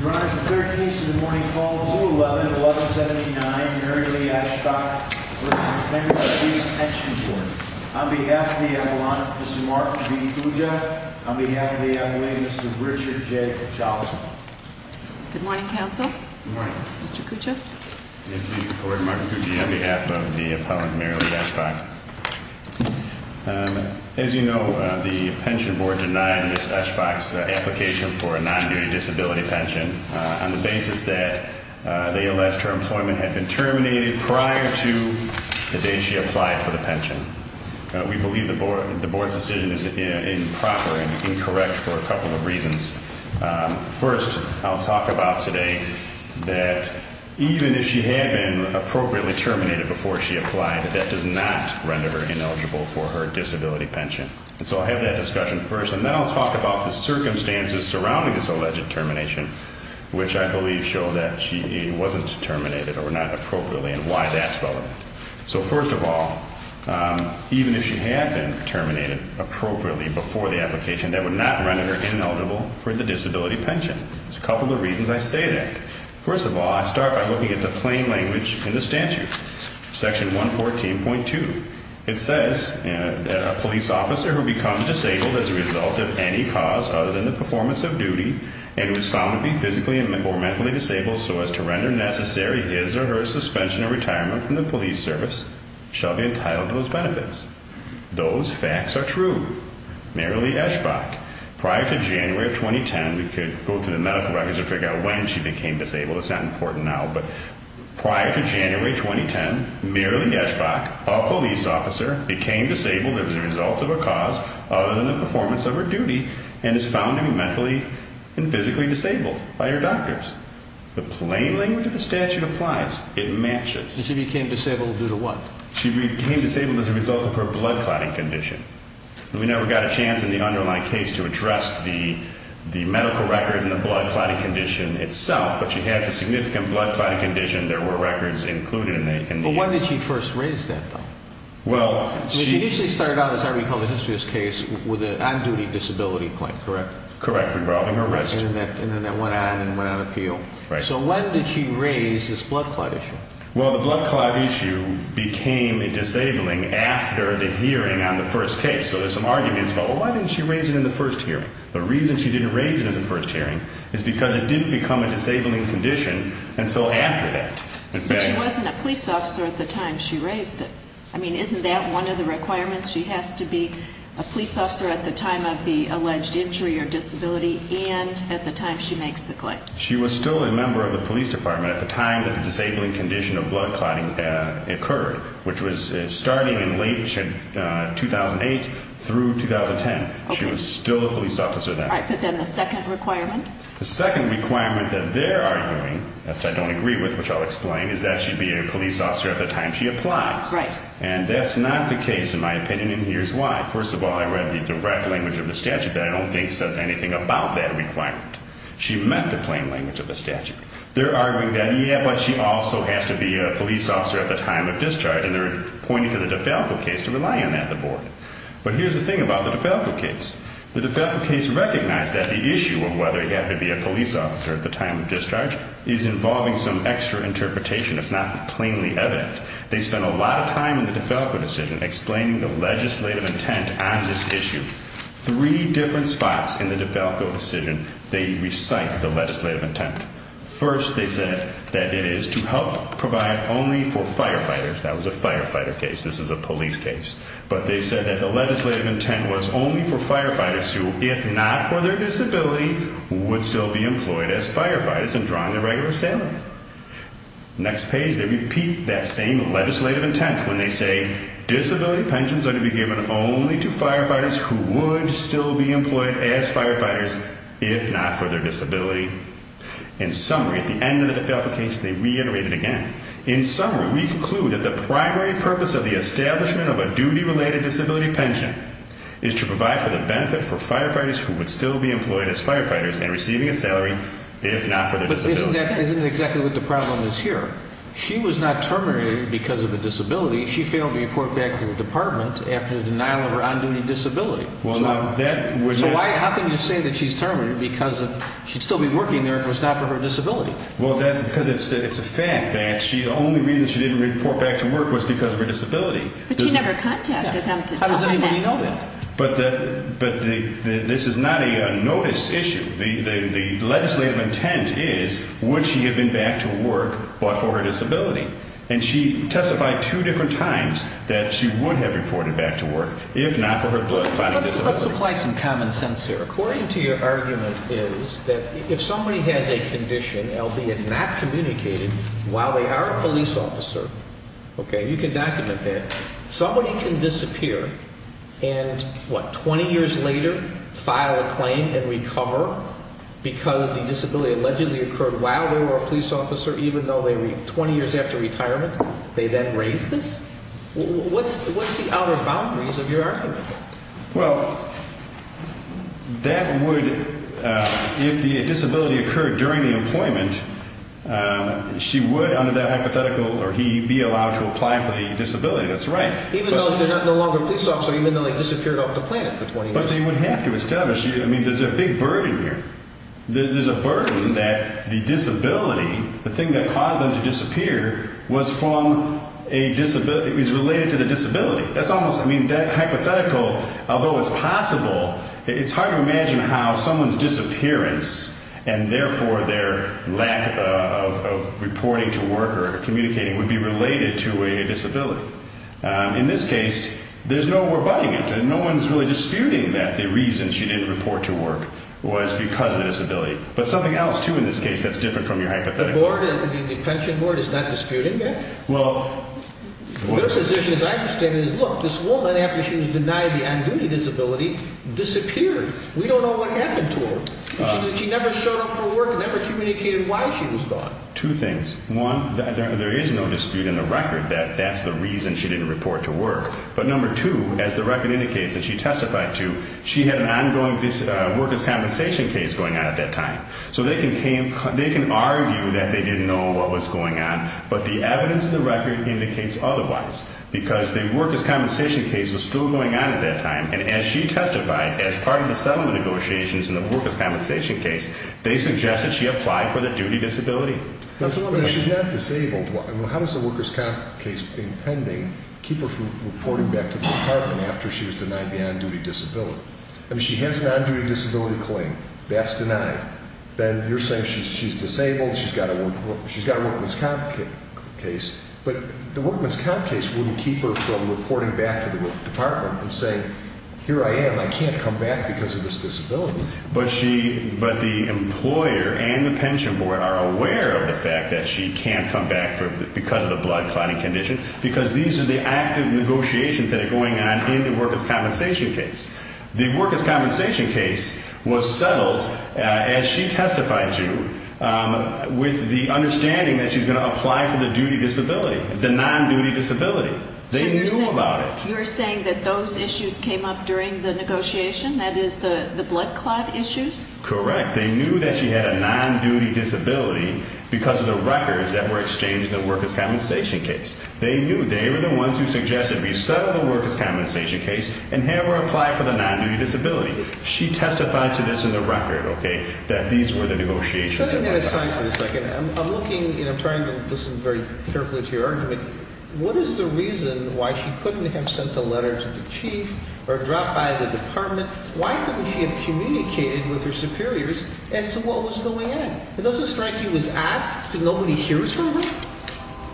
Your Honor, it's the 13th of the morning call, 2-11-1179, Mary Lee Eschbach v. McHenry Police Pension Board. On behalf of the Appellant, Mr. Mark B. Cuccia. On behalf of the Appellant, Mr. Richard J. Johnson. Good morning, Counsel. Good morning. Mr. Cuccia. Please support Mark Cuccia on behalf of the Appellant, Mary Lee Eschbach. As you know, the Pension Board denied Ms. Eschbach's application for a non-duty disability pension on the basis that they alleged her employment had been terminated prior to the day she applied for the pension. We believe the Board's decision is improper and incorrect for a couple of reasons. First, I'll talk about today that even if she had been appropriately terminated before she applied, that does not render her ineligible for her disability pension. And so I'll have that discussion first, and then I'll talk about the circumstances surrounding this alleged termination, which I believe show that she wasn't terminated or not appropriately and why that's relevant. So first of all, even if she had been terminated appropriately before the application, that would not render her ineligible for the disability pension. There's a couple of reasons I say that. First of all, I start by looking at the plain language in the statute, Section 114.2. It says that a police officer who becomes disabled as a result of any cause other than the performance of duty and who is found to be physically or mentally disabled so as to render necessary his or her suspension or retirement from the police service shall be entitled to those benefits. Those facts are true. Mary Lee Eschbach, prior to January 2010, we could go through the medical records and figure out when she became disabled, it's not important now, but prior to January 2010, Mary Lee Eschbach, a police officer, became disabled as a result of a cause other than the performance of her duty and is found to be mentally and physically disabled by her doctors. The plain language of the statute applies. It matches. And she became disabled due to what? She became disabled as a result of her blood clotting condition. We never got a chance in the underlying case to address the medical records and the blood clotting condition itself, but she has a significant blood clotting condition. There were records included in the... But when did she first raise that, though? Well, she... She initially started out, as I recall in the history of this case, with an on-duty disability claim, correct? Correct, involving arrest. And then that went on and went on appeal. Right. So when did she raise this blood clot issue? Well, the blood clot issue became a disabling after the hearing on the first case. So there's some arguments about, well, why didn't she raise it in the first hearing? The reason she didn't raise it in the first hearing is because it didn't become a disabling condition until after that. But she wasn't a police officer at the time she raised it. I mean, isn't that one of the requirements? She has to be a police officer at the time of the alleged injury or disability and at the time she makes the claim. She was still a member of the police department at the time that the disabling condition of blood clotting occurred, which was starting in late 2008 through 2010. Okay. So she was still a police officer then. All right. But then the second requirement? The second requirement that they're arguing, which I don't agree with, which I'll explain, is that she'd be a police officer at the time she applies. Right. And that's not the case, in my opinion, and here's why. First of all, I read the direct language of the statute that I don't think says anything about that requirement. She met the plain language of the statute. They're arguing that, yeah, but she also has to be a police officer at the time of discharge. And they're pointing to the DeFalco case to rely on that at the board. But here's the thing about the DeFalco case. The DeFalco case recognized that the issue of whether you have to be a police officer at the time of discharge is involving some extra interpretation. It's not plainly evident. They spent a lot of time in the DeFalco decision explaining the legislative intent on this issue. Three different spots in the DeFalco decision, they recite the legislative intent. First, they said that it is to help provide only for firefighters. That was a firefighter case. This is a police case. But they said that the legislative intent was only for firefighters who, if not for their disability, would still be employed as firefighters and draw on their regular salary. Next page, they repeat that same legislative intent when they say disability pensions are to be given only to firefighters who would still be employed as firefighters, if not for their disability. In summary, at the end of the DeFalco case, they reiterate it again. In summary, we conclude that the primary purpose of the establishment of a duty-related disability pension is to provide for the benefit for firefighters who would still be employed as firefighters and receiving a salary, if not for their disability. But isn't that exactly what the problem is here? She was not terminated because of a disability. She failed to report back to the department after the denial of her on-duty disability. So how can you say that she's terminated because she'd still be working there if it was not for her disability? Well, because it's a fact that the only reason she didn't report back to work was because of her disability. But she never contacted them to tell them that. How does anybody know that? But this is not a notice issue. The legislative intent is, would she have been back to work but for her disability? And she testified two different times that she would have reported back to work, if not for her blood clotting disability. Let's apply some common sense here. According to your argument is that if somebody has a condition, albeit not communicated, while they are a police officer, okay, you can document that. Somebody can disappear and, what, 20 years later file a claim and recover because the disability allegedly occurred while they were a police officer, even though they were 20 years after retirement? They then raise this? What's the outer boundaries of your argument? Well, that would, if the disability occurred during the employment, she would, under that hypothetical, or he, be allowed to apply for the disability. That's right. Even though they're no longer police officers, even though they disappeared off the planet for 20 years? But they would have to establish, I mean, there's a big burden here. There's a burden that the disability, the thing that caused them to disappear, was from a disability, was related to the disability. That's almost, I mean, that hypothetical, although it's possible, it's hard to imagine how someone's disappearance and, therefore, their lack of reporting to work or communicating would be related to a disability. In this case, there's no more butting into it. No one's really disputing that the reason she didn't report to work was because of the disability. But something else, too, in this case, that's different from your hypothetical. The board, the pension board, is not disputing it? Well, their position, as I understand it, is, look, this woman, after she was denied the on-duty disability, disappeared. We don't know what happened to her. She never showed up for work and never communicated why she was gone. Two things. One, there is no dispute in the record that that's the reason she didn't report to work. But, number two, as the record indicates and she testified to, she had an ongoing workers' compensation case going on at that time. So they can argue that they didn't know what was going on, but the evidence in the record indicates otherwise, because the workers' compensation case was still going on at that time. And as she testified, as part of the settlement negotiations in the workers' compensation case, they suggest that she applied for the duty disability. But she's not disabled. How does the workers' compensation case being pending keep her from reporting back to the department after she was denied the on-duty disability? I mean, she has an on-duty disability claim. That's denied. Then you're saying she's disabled, she's got a workers' comp case. But the workers' comp case wouldn't keep her from reporting back to the department and saying, here I am, I can't come back because of this disability. But the employer and the pension board are aware of the fact that she can't come back because of the blood clotting condition, because these are the active negotiations that are going on in the workers' compensation case. The workers' compensation case was settled, as she testified to, with the understanding that she's going to apply for the duty disability, the non-duty disability. They knew about it. So you're saying that those issues came up during the negotiation, that is, the blood clot issues? Correct. They knew that she had a non-duty disability because of the records that were exchanged in the workers' compensation case. They knew. They were the ones who suggested we settle the workers' compensation case and have her apply for the non-duty disability. She testified to this in the record, okay, that these were the negotiations. Setting that aside for a second, I'm looking and I'm trying to listen very carefully to your argument. What is the reason why she couldn't have sent a letter to the chief or dropped by the department? Why couldn't she have communicated with her superiors as to what was going on? It doesn't strike you as odd that nobody hears her?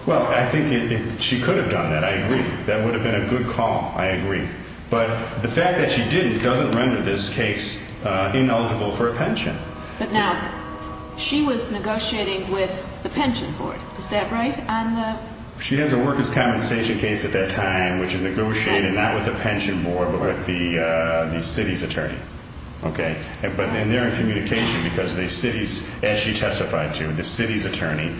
Well, I think she could have done that. I agree. That would have been a good call. I agree. But the fact that she didn't doesn't render this case ineligible for a pension. But now she was negotiating with the pension board. Is that right? She has a workers' compensation case at that time which is negotiated not with the pension board but with the city's attorney. But then they're in communication because the city's, as she testified to, the city's attorney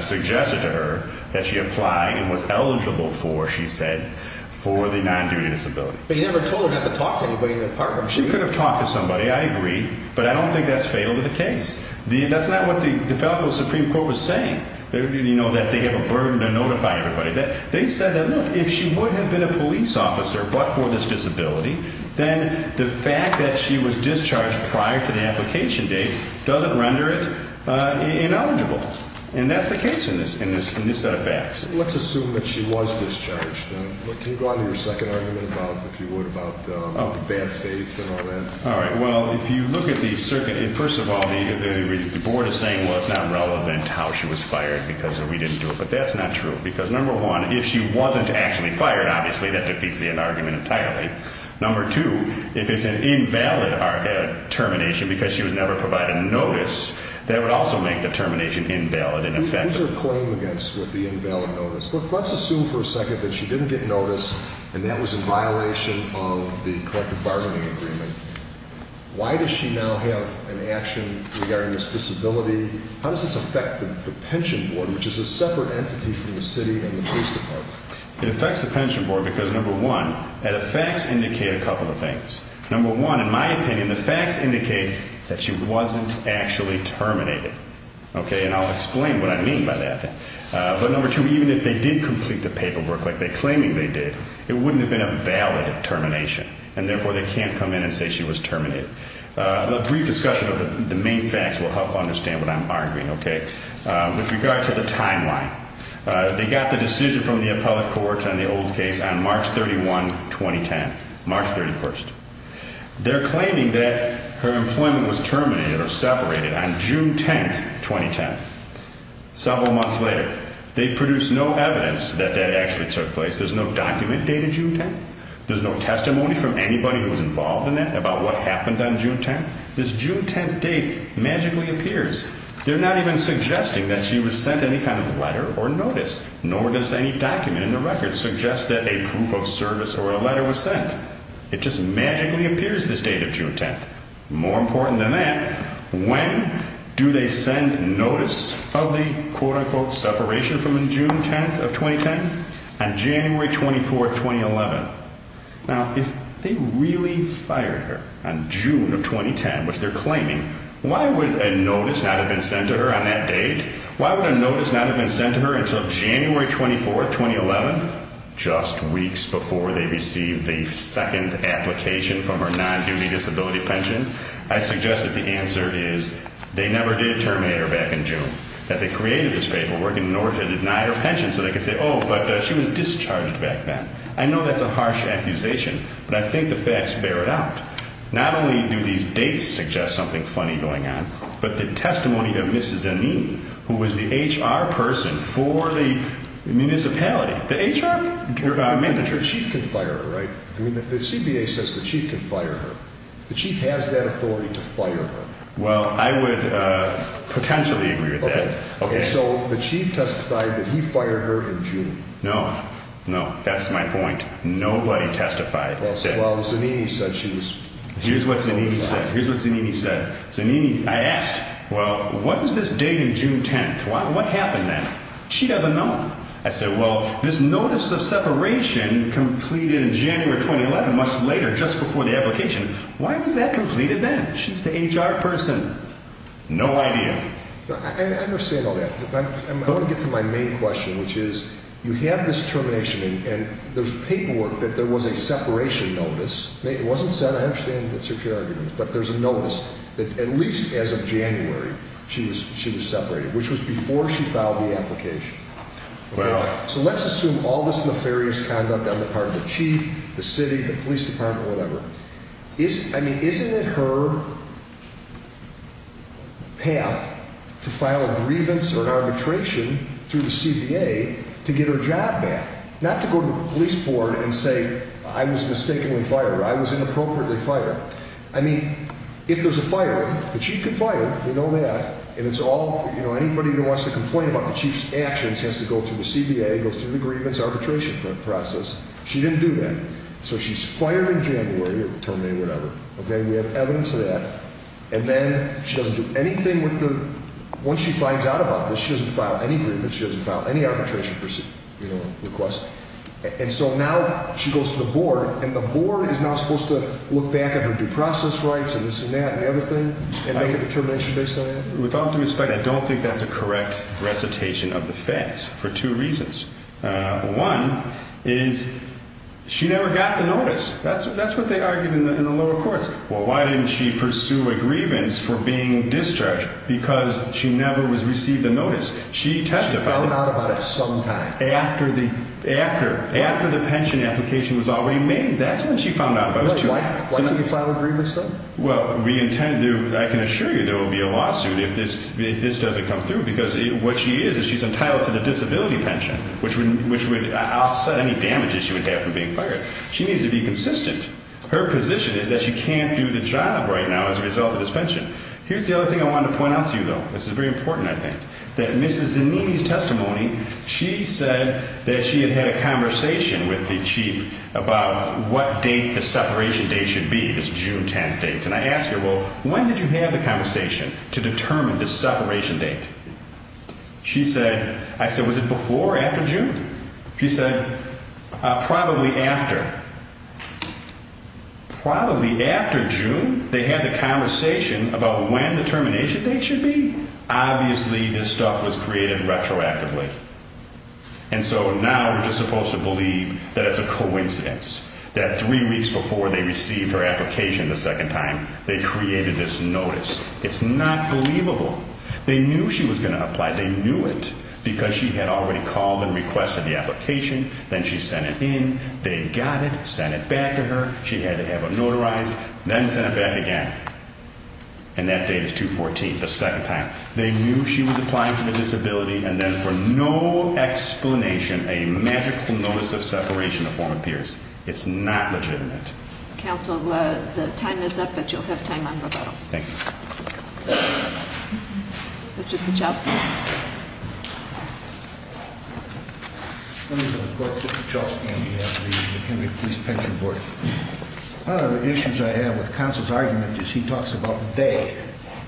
suggested to her that she apply and was eligible for, she said, for the non-duty disability. But you never told her not to talk to anybody in the department. She could have talked to somebody. I agree. But I don't think that's fatal to the case. That's not what the DeFalco Supreme Court was saying, that they have a burden to notify everybody. They said that, look, if she would have been a police officer but for this disability, then the fact that she was discharged prior to the application date doesn't render it ineligible. And that's the case in this set of facts. Let's assume that she was discharged. Can you go on to your second argument about, if you would, about bad faith and all that? All right. Well, if you look at the circuit, first of all, the board is saying, well, it's not relevant how she was fired because we didn't do it. But that's not true because, number one, if she wasn't actually fired, obviously that defeats the argument entirely. Number two, if it's an invalid termination because she was never provided notice, that would also make the termination invalid and ineffective. What is her claim against the invalid notice? Look, let's assume for a second that she didn't get notice and that was in violation of the collective bargaining agreement. Why does she now have an action regarding this disability? How does this affect the pension board, which is a separate entity from the city and the police department? It affects the pension board because, number one, the facts indicate a couple of things. Number one, in my opinion, the facts indicate that she wasn't actually terminated. Okay? And I'll explain what I mean by that. But, number two, even if they did complete the paperwork like they're claiming they did, it wouldn't have been a valid termination. And, therefore, they can't come in and say she was terminated. A brief discussion of the main facts will help understand what I'm arguing. Okay? With regard to the timeline, they got the decision from the appellate court on the old case on March 31, 2010. March 31st. They're claiming that her employment was terminated or separated on June 10th, 2010. Several months later, they produce no evidence that that actually took place. There's no document dated June 10th. There's no testimony from anybody who was involved in that about what happened on June 10th. This June 10th date magically appears. They're not even suggesting that she was sent any kind of letter or notice, nor does any document in the record suggest that a proof of service or a letter was sent. It just magically appears this date of June 10th. More important than that, when do they send notice of the quote-unquote separation from June 10th of 2010? On January 24th, 2011. Now, if they really fired her on June of 2010, which they're claiming, why would a notice not have been sent to her on that date? Why would a notice not have been sent to her until January 24th, 2011? Just weeks before they received the second application from her non-duty disability pension, I suggest that the answer is they never did terminate her back in June, that they created this paperwork in order to deny her pension so they could say, oh, but she was discharged back then. I know that's a harsh accusation, but I think the facts bear it out. Not only do these dates suggest something funny going on, but the testimony of Mrs. Zanini, who was the HR person for the municipality. The HR manager. The chief can fire her, right? I mean, the CBA says the chief can fire her. The chief has that authority to fire her. Well, I would potentially agree with that. Okay, so the chief testified that he fired her in June. No, no, that's my point. Nobody testified that. Well, Zanini said she was. Here's what Zanini said. Here's what Zanini said. Zanini, I asked, well, what is this date in June 10th? What happened then? She doesn't know. I said, well, this notice of separation completed in January 2011, much later, just before the application. Why was that completed then? She's the HR person. No idea. I understand all that. I want to get to my main question, which is you have this termination, and there's paperwork that there was a separation notice. It wasn't sent. But there's a notice that at least as of January, she was separated, which was before she filed the application. So let's assume all this nefarious conduct on the part of the chief, the city, the police department, whatever. I mean, isn't it her path to file a grievance or an arbitration through the CBA to get her job back, not to go to the police board and say, I was mistaken with fire. I was inappropriately fired. I mean, if there's a fire, the chief can fire. We know that. Anybody who wants to complain about the chief's actions has to go through the CBA, go through the grievance arbitration process. She didn't do that. So she's fired in January or terminated, whatever. Okay? We have evidence of that. And then she doesn't do anything once she finds out about this. She doesn't file any grievance. She doesn't file any arbitration request. And so now she goes to the board, and the board is now supposed to look back at her due process rights and this and that and the other thing and make a determination based on that? With all due respect, I don't think that's a correct recitation of the facts for two reasons. One is she never got the notice. That's what they argued in the lower courts. Well, why didn't she pursue a grievance for being discharged? Because she never received the notice. She testified. She found out about it sometime. After the pension application was already made. That's when she found out about it. Why didn't you file a grievance, though? Well, I can assure you there will be a lawsuit if this doesn't come through, because what she is is she's entitled to the disability pension, which would offset any damages she would have from being fired. She needs to be consistent. Her position is that she can't do the job right now as a result of this pension. Here's the other thing I wanted to point out to you, though. This is very important, I think, that Mrs. Zanini's testimony, she said that she had had a conversation with the chief about what date the separation date should be, this June 10th date. And I asked her, well, when did you have the conversation to determine the separation date? She said, I said, was it before or after June? She said, probably after. Probably after June? They had the conversation about when the termination date should be? Obviously, this stuff was created retroactively. And so now we're just supposed to believe that it's a coincidence that three weeks before they received her application the second time, they created this notice. It's not believable. They knew she was going to apply. They knew it because she had already called and requested the application. Then she sent it in. They got it, sent it back to her. She had to have it notarized, then sent it back again. And that date is 2-14, the second time. They knew she was applying for the disability, and then for no explanation, a magical notice of separation form appears. It's not legitimate. Counsel, the time is up, but you'll have time on rebuttal. Thank you. Mr. Kuchelski. Let me report to Mr. Kuchelski on behalf of the Kennedy Police Pension Board. One of the issues I have with Counsel's argument is he talks about they,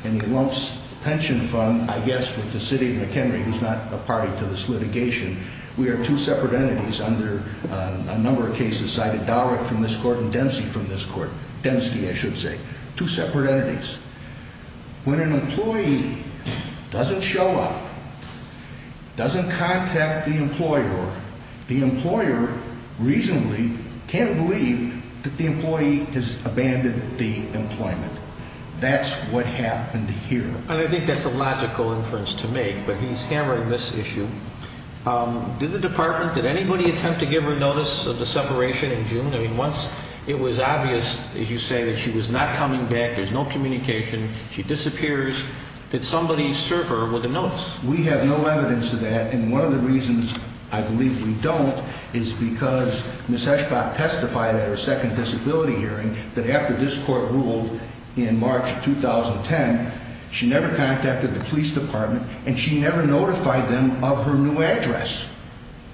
and he lumps the pension fund, I guess, with the city of McHenry, who's not a party to this litigation. We are two separate entities under a number of cases cited, Dollard from this court and Dempsey from this court. Dempsey, I should say. Two separate entities. When an employee doesn't show up, doesn't contact the employer, the employer reasonably can't believe that the employee has abandoned the employment. That's what happened here. And I think that's a logical inference to make, but he's hammering this issue. Did the department, did anybody attempt to give her notice of the separation in June? I mean, once it was obvious, as you say, that she was not coming back, there's no communication, she disappears, did somebody serve her with a notice? We have no evidence of that, and one of the reasons I believe we don't is because Ms. Eschbach testified at her second disability hearing that after this court ruled in March of 2010, she never contacted the police department and she never notified them of her new address.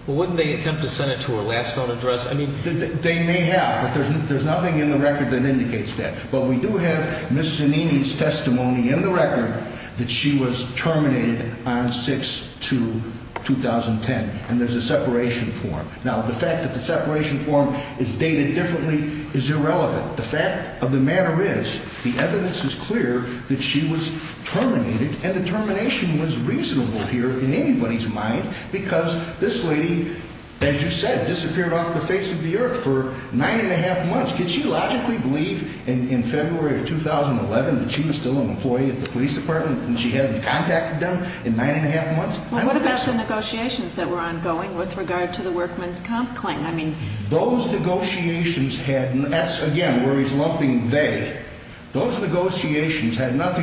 Well, wouldn't they attempt to send it to her last known address? They may have, but there's nothing in the record that indicates that. But we do have Ms. Zanini's testimony in the record that she was terminated on 6-2-2010, and there's a separation form. Now, the fact that the separation form is dated differently is irrelevant. The fact of the matter is the evidence is clear that she was terminated, and the termination was reasonable here in anybody's mind because this lady, as you said, disappeared off the face of the earth for nine and a half months. Can she logically believe in February of 2011 that she was still an employee at the police department and she hadn't contacted them in nine and a half months? What about the negotiations that were ongoing with regard to the workman's comp claim? Those negotiations had nothing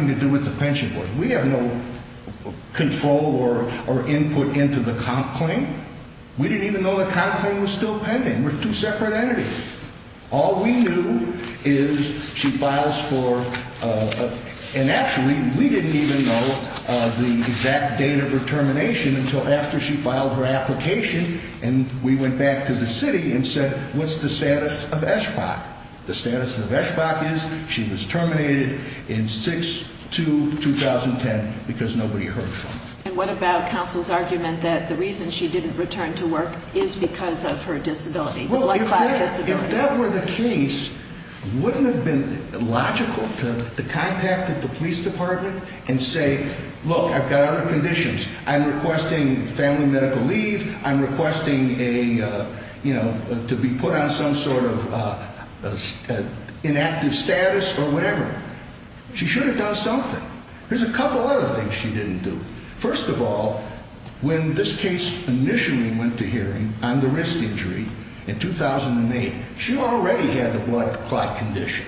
to do with the pension board. We have no control or input into the comp claim. We didn't even know the comp claim was still pending. They were two separate entities. All we knew is she files for, and actually we didn't even know the exact date of her termination until after she filed her application, and we went back to the city and said, what's the status of SBAC? The status of SBAC is she was terminated in 6-2-2010 because nobody heard from her. And what about counsel's argument that the reason she didn't return to work is because of her disability, the blood clot disability? If that were the case, wouldn't it have been logical to contact the police department and say, look, I've got other conditions. I'm requesting family medical leave. I'm requesting to be put on some sort of inactive status or whatever. She should have done something. There's a couple other things she didn't do. First of all, when this case initially went to hearing on the wrist injury in 2008, she already had the blood clot condition.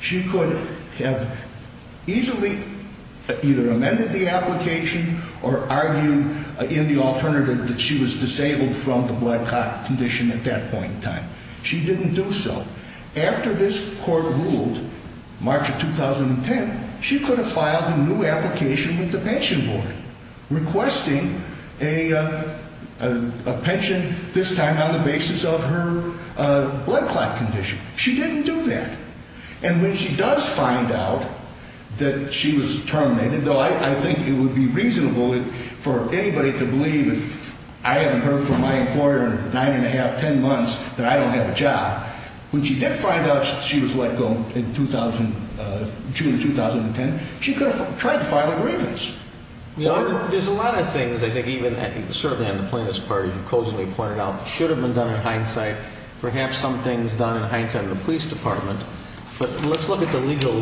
She could have easily either amended the application or argued in the alternative that she was disabled from the blood clot condition at that point in time. She didn't do so. After this court ruled, March of 2010, she could have filed a new application with the pension board requesting a pension, this time on the basis of her blood clot condition. She didn't do that. And when she does find out that she was terminated, though I think it would be reasonable for anybody to believe if I hadn't heard from my employer nine and a half, ten months, that I don't have a job, when she did find out she was let go in June of 2010, she could have tried to file a grievance. There's a lot of things, I think, even certainly on the plaintiff's part, you've closely pointed out that should have been done in hindsight. Perhaps something was done in hindsight in the police department. But let's look at the legal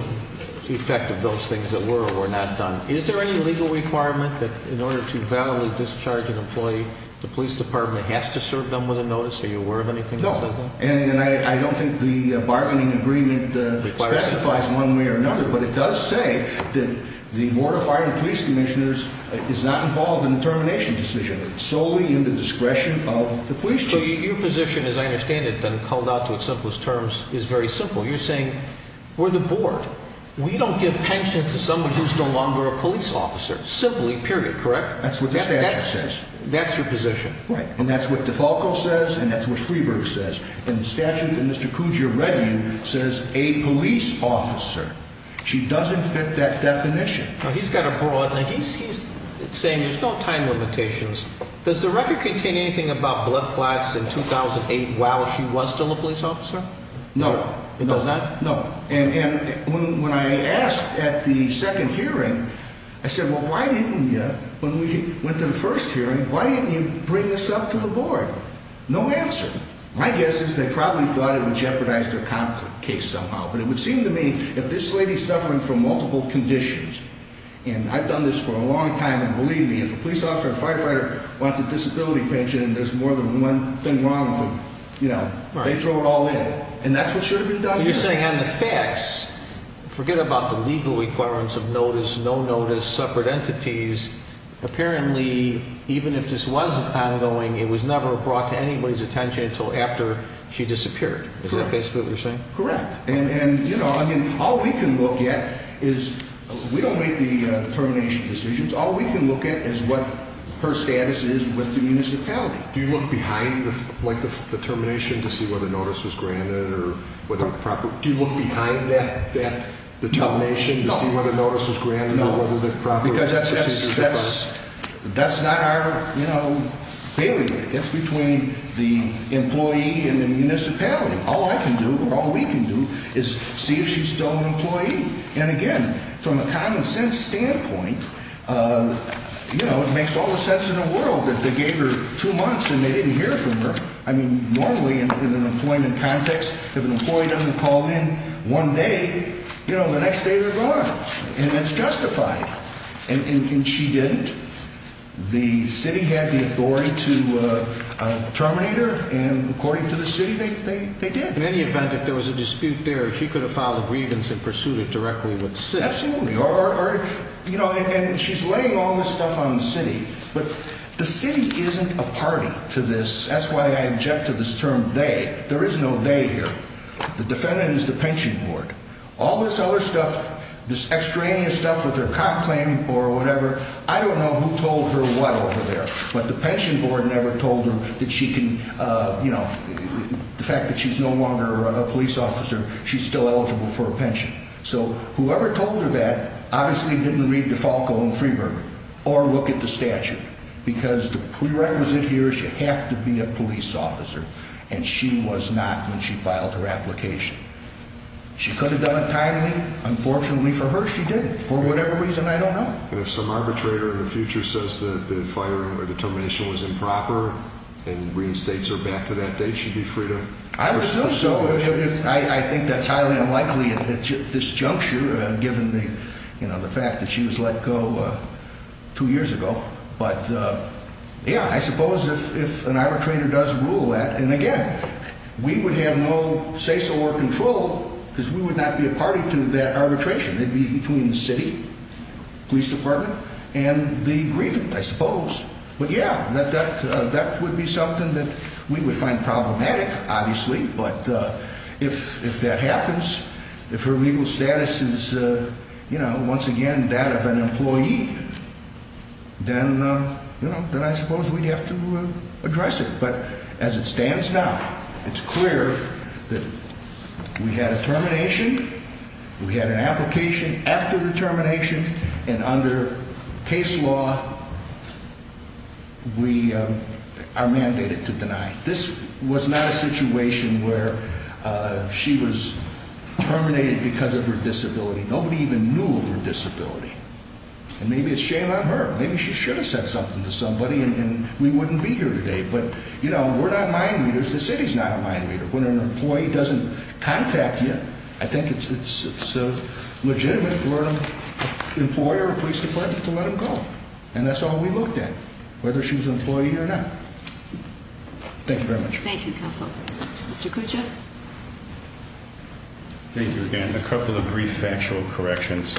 effect of those things that were or were not done. Is there any legal requirement that in order to validly discharge an employee, the police department has to serve them with a notice? Are you aware of anything that says that? No, and I don't think the bargaining agreement specifies one way or another, but it does say that the Board of Fire and Police Commissioners is not involved in the termination decision. It's solely in the discretion of the police chief. So your position, as I understand it, then called out to its simplest terms, is very simple. You're saying, we're the board. We don't give pensions to somebody who's no longer a police officer, simply, period, correct? That's what the statute says. That's your position. Right. And that's what Defalco says, and that's what Freeberg says. And the statute that Mr. Kuja read you says a police officer. She doesn't fit that definition. He's got a broad, and he's saying there's no time limitations. Does the record contain anything about blood clots in 2008 while she was still a police officer? No. It does not? No. And when I asked at the second hearing, I said, well, why didn't you? When we went to the first hearing, why didn't you bring this up to the board? No answer. My guess is they probably thought it would jeopardize their conflict case somehow, but it would seem to me if this lady's suffering from multiple conditions, and I've done this for a long time, and believe me, if a police officer or a firefighter wants a disability pension and there's more than one thing wrong with them, you know, they throw it all in. And that's what should have been done. You're saying on the facts, forget about the legal requirements of notice, no notice, separate entities, apparently even if this was ongoing, it was never brought to anybody's attention until after she disappeared. Correct. Is that basically what you're saying? Correct. And, you know, I mean, all we can look at is we don't make the determination decisions. All we can look at is what her status is with the municipality. Do you look behind the termination to see whether notice was granted or whether proper? Do you look behind that determination to see whether notice was granted or whether proper? Because that's not our, you know, bailiwick. It's between the employee and the municipality. All I can do or all we can do is see if she's still an employee. And, again, from a common sense standpoint, you know, it makes all the sense in the world that they gave her two months and they didn't hear from her. I mean, normally in an employment context, if an employee doesn't call in one day, you know, the next day they're gone. And that's justified. And she didn't. The city had the authority to terminate her, and according to the city, they did. In any event, if there was a dispute there, she could have filed a grievance and pursued it directly with the city. Absolutely. Or, you know, and she's laying all this stuff on the city. But the city isn't a party to this. That's why I object to this term they. There is no they here. The defendant is the pension board. All this other stuff, this extraneous stuff with her comp claim or whatever, I don't know who told her what over there. But the pension board never told her that she can, you know, the fact that she's no longer a police officer, she's still eligible for a pension. So whoever told her that obviously didn't read the Falco and Freeburg or look at the statute because the prerequisite here is you have to be a police officer. And she was not when she filed her application. She could have done it timely. Unfortunately for her, she didn't. For whatever reason, I don't know. And if some arbitrator in the future says that the firing or the termination was improper and reinstates her back to that date, she'd be free to do so. I think that's highly unlikely at this juncture, given the fact that she was let go two years ago. But, yeah, I suppose if an arbitrator does rule that, and again, we would have no say-so or control because we would not be a party to that arbitration. It would be between the city, police department, and the grievant, I suppose. But, yeah, that would be something that we would find problematic, obviously. But if that happens, if her legal status is, you know, once again that of an employee, then, you know, then I suppose we'd have to address it. But as it stands now, it's clear that we had a termination, we had an application after the termination, and under case law, we are mandated to deny. This was not a situation where she was terminated because of her disability. Nobody even knew of her disability. And maybe it's shame on her. Maybe she should have said something to somebody, and we wouldn't be here today. But, you know, we're not mind readers. The city's not a mind reader. When an employee doesn't contact you, I think it's legitimate for an employer or police department to let them go. And that's all we looked at, whether she was an employee or not. Thank you very much. Thank you, counsel. Mr. Kucha? Thank you again. A couple of brief factual corrections.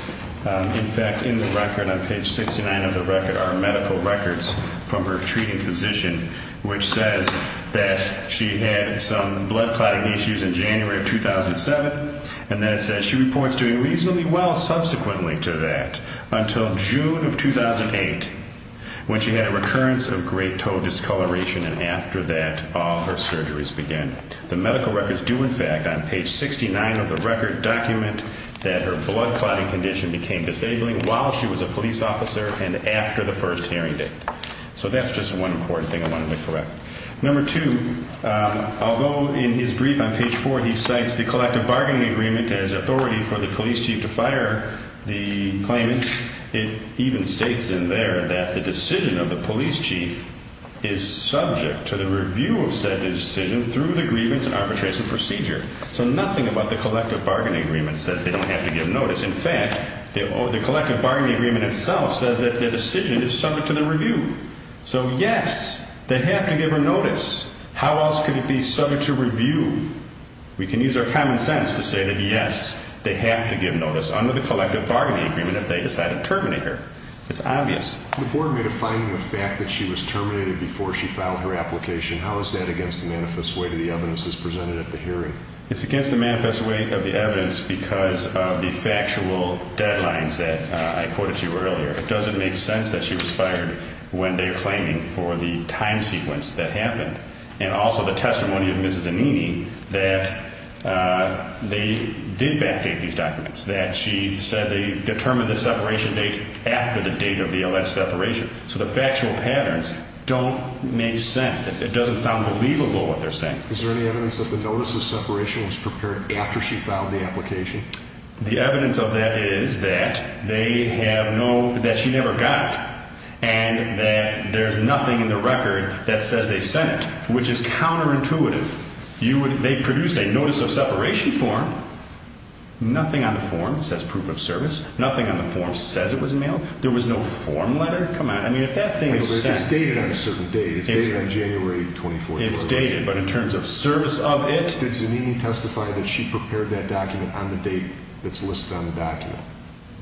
In fact, in the record, on page 69 of the record, are medical records from her treating physician, which says that she had some blood clotting issues in January of 2007, and that says she reports doing reasonably well subsequently to that until June of 2008, when she had a recurrence of great toe discoloration, and after that, all her surgeries began. The medical records do, in fact, on page 69 of the record, document that her blood clotting condition became disabling while she was a police officer and after the first hearing date. So that's just one important thing I wanted to correct. Number two, although in his brief on page 4, he cites the collective bargaining agreement as authority for the police chief to fire the claimant, it even states in there that the decision of the police chief is subject to the review of said decision through the grievance and arbitration procedure. So nothing about the collective bargaining agreement says they don't have to give notice. In fact, the collective bargaining agreement itself says that the decision is subject to the review. So, yes, they have to give her notice. How else could it be subject to review? We can use our common sense to say that, yes, they have to give notice under the collective bargaining agreement if they decide to terminate her. It's obvious. The board made a finding of the fact that she was terminated before she filed her application. How is that against the manifest weight of the evidence that's presented at the hearing? It's against the manifest weight of the evidence because of the factual deadlines that I quoted to you earlier. It doesn't make sense that she was fired when they're claiming for the time sequence that happened and also the testimony of Mrs. Annini that they did backdate these documents, that she said they determined the separation date after the date of the alleged separation. So the factual patterns don't make sense. It doesn't sound believable what they're saying. Is there any evidence that the notice of separation was prepared after she filed the application? The evidence of that is that they have no, that she never got it and that there's nothing in the record that says they sent it, which is counterintuitive. They produced a notice of separation form. Nothing on the form says proof of service. Nothing on the form says it was mailed. There was no form letter. Come on. It's dated on a certain date. It's dated on January 24th. It's dated, but in terms of service of it? Did Zanini testify that she prepared that document on the date that's listed on the document?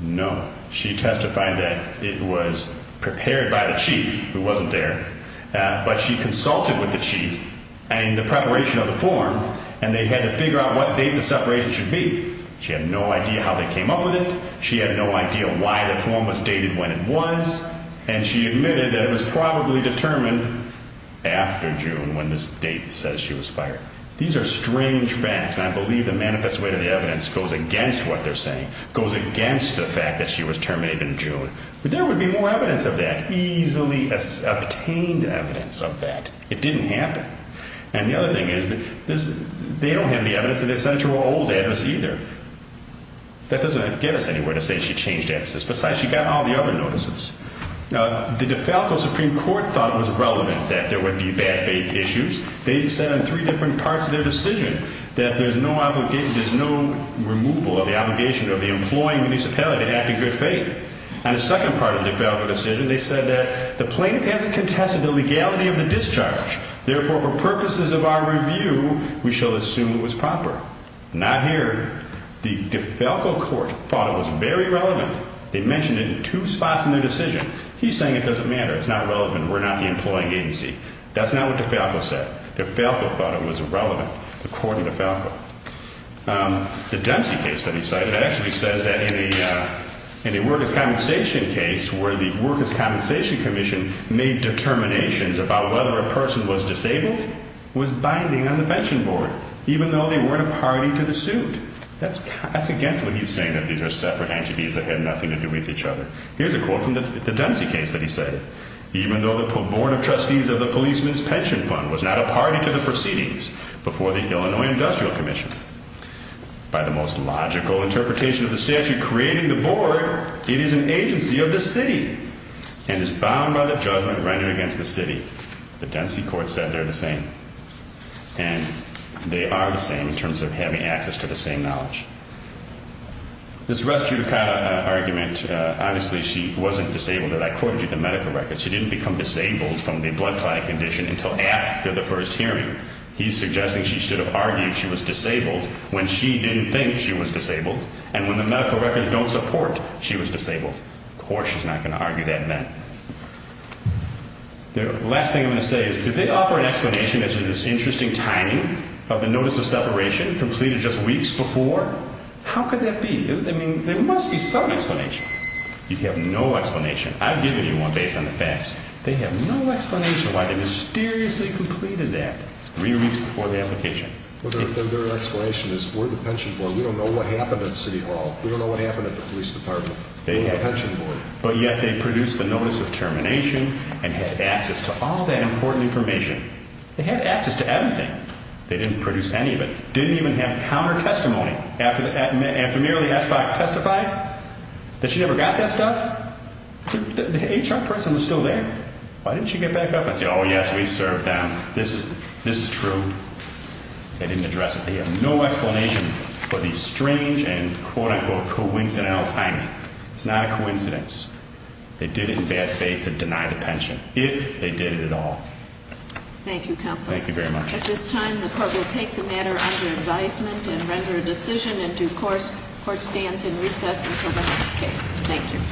No. She testified that it was prepared by the chief who wasn't there, but she consulted with the chief and the preparation of the form, and they had to figure out what date the separation should be. She had no idea how they came up with it. She had no idea why the form was dated when it was, and she admitted that it was probably determined after June when this date says she was fired. These are strange facts, and I believe the manifest way to the evidence goes against what they're saying, goes against the fact that she was terminated in June. But there would be more evidence of that, easily obtained evidence of that. It didn't happen. And the other thing is that they don't have any evidence that they sent it to her old address either. That doesn't get us anywhere to say she changed addresses. Besides, she got all the other notices. Now, the DeFalco Supreme Court thought it was relevant that there would be bad faith issues. They said in three different parts of their decision that there's no removal of the obligation of the employing municipality to act in good faith. On the second part of the DeFalco decision, they said that the plaintiff hasn't contested the legality of the discharge. Therefore, for purposes of our review, we shall assume it was proper. Not here. The DeFalco court thought it was very relevant. They mentioned it in two spots in their decision. He's saying it doesn't matter. It's not relevant. We're not the employing agency. That's not what DeFalco said. DeFalco thought it was irrelevant, according to DeFalco. The Dempsey case that he cited actually says that in the workers' compensation case where the workers' compensation commission made determinations about whether a person was disabled, was binding on the pension board, even though they weren't a party to the suit. That's against what he's saying, that these are separate entities that had nothing to do with each other. Here's a quote from the Dempsey case that he cited. Even though the board of trustees of the policeman's pension fund was not a party to the proceedings before the Illinois Industrial Commission, by the most logical interpretation of the statute creating the board, it is an agency of the city and is bound by the judgment rendered against the city. The Dempsey court said they're the same. And they are the same in terms of having access to the same knowledge. This Russ Giudicata argument, obviously she wasn't disabled. I quoted you the medical records. She didn't become disabled from the blood clotting condition until after the first hearing. He's suggesting she should have argued she was disabled when she didn't think she was disabled, and when the medical records don't support she was disabled. Of course she's not going to argue that then. The last thing I'm going to say is did they offer an explanation as to this interesting timing of the notice of separation completed just weeks before? How could that be? There must be some explanation. You have no explanation. I've given you one based on the facts. They have no explanation why they mysteriously completed that three weeks before the application. Their explanation is we're the pension board. We don't know what happened at City Hall. We don't know what happened at the police department. We're the pension board. But yet they produced the notice of termination and had access to all that important information. They had access to everything. They didn't produce any of it. Didn't even have counter-testimony. After merely Eschbach testified that she never got that stuff, the HR person was still there. Why didn't she get back up and say, oh, yes, we served them. This is true. They didn't address it. They have no explanation for the strange and quote-unquote coincidental timing. It's not a coincidence. They did it in bad faith to deny the pension, if they did it at all. Thank you, counsel. Thank you very much. At this time, the court will take the matter under advisement and render a decision in due course. Court stands in recess until the next case. Thank you.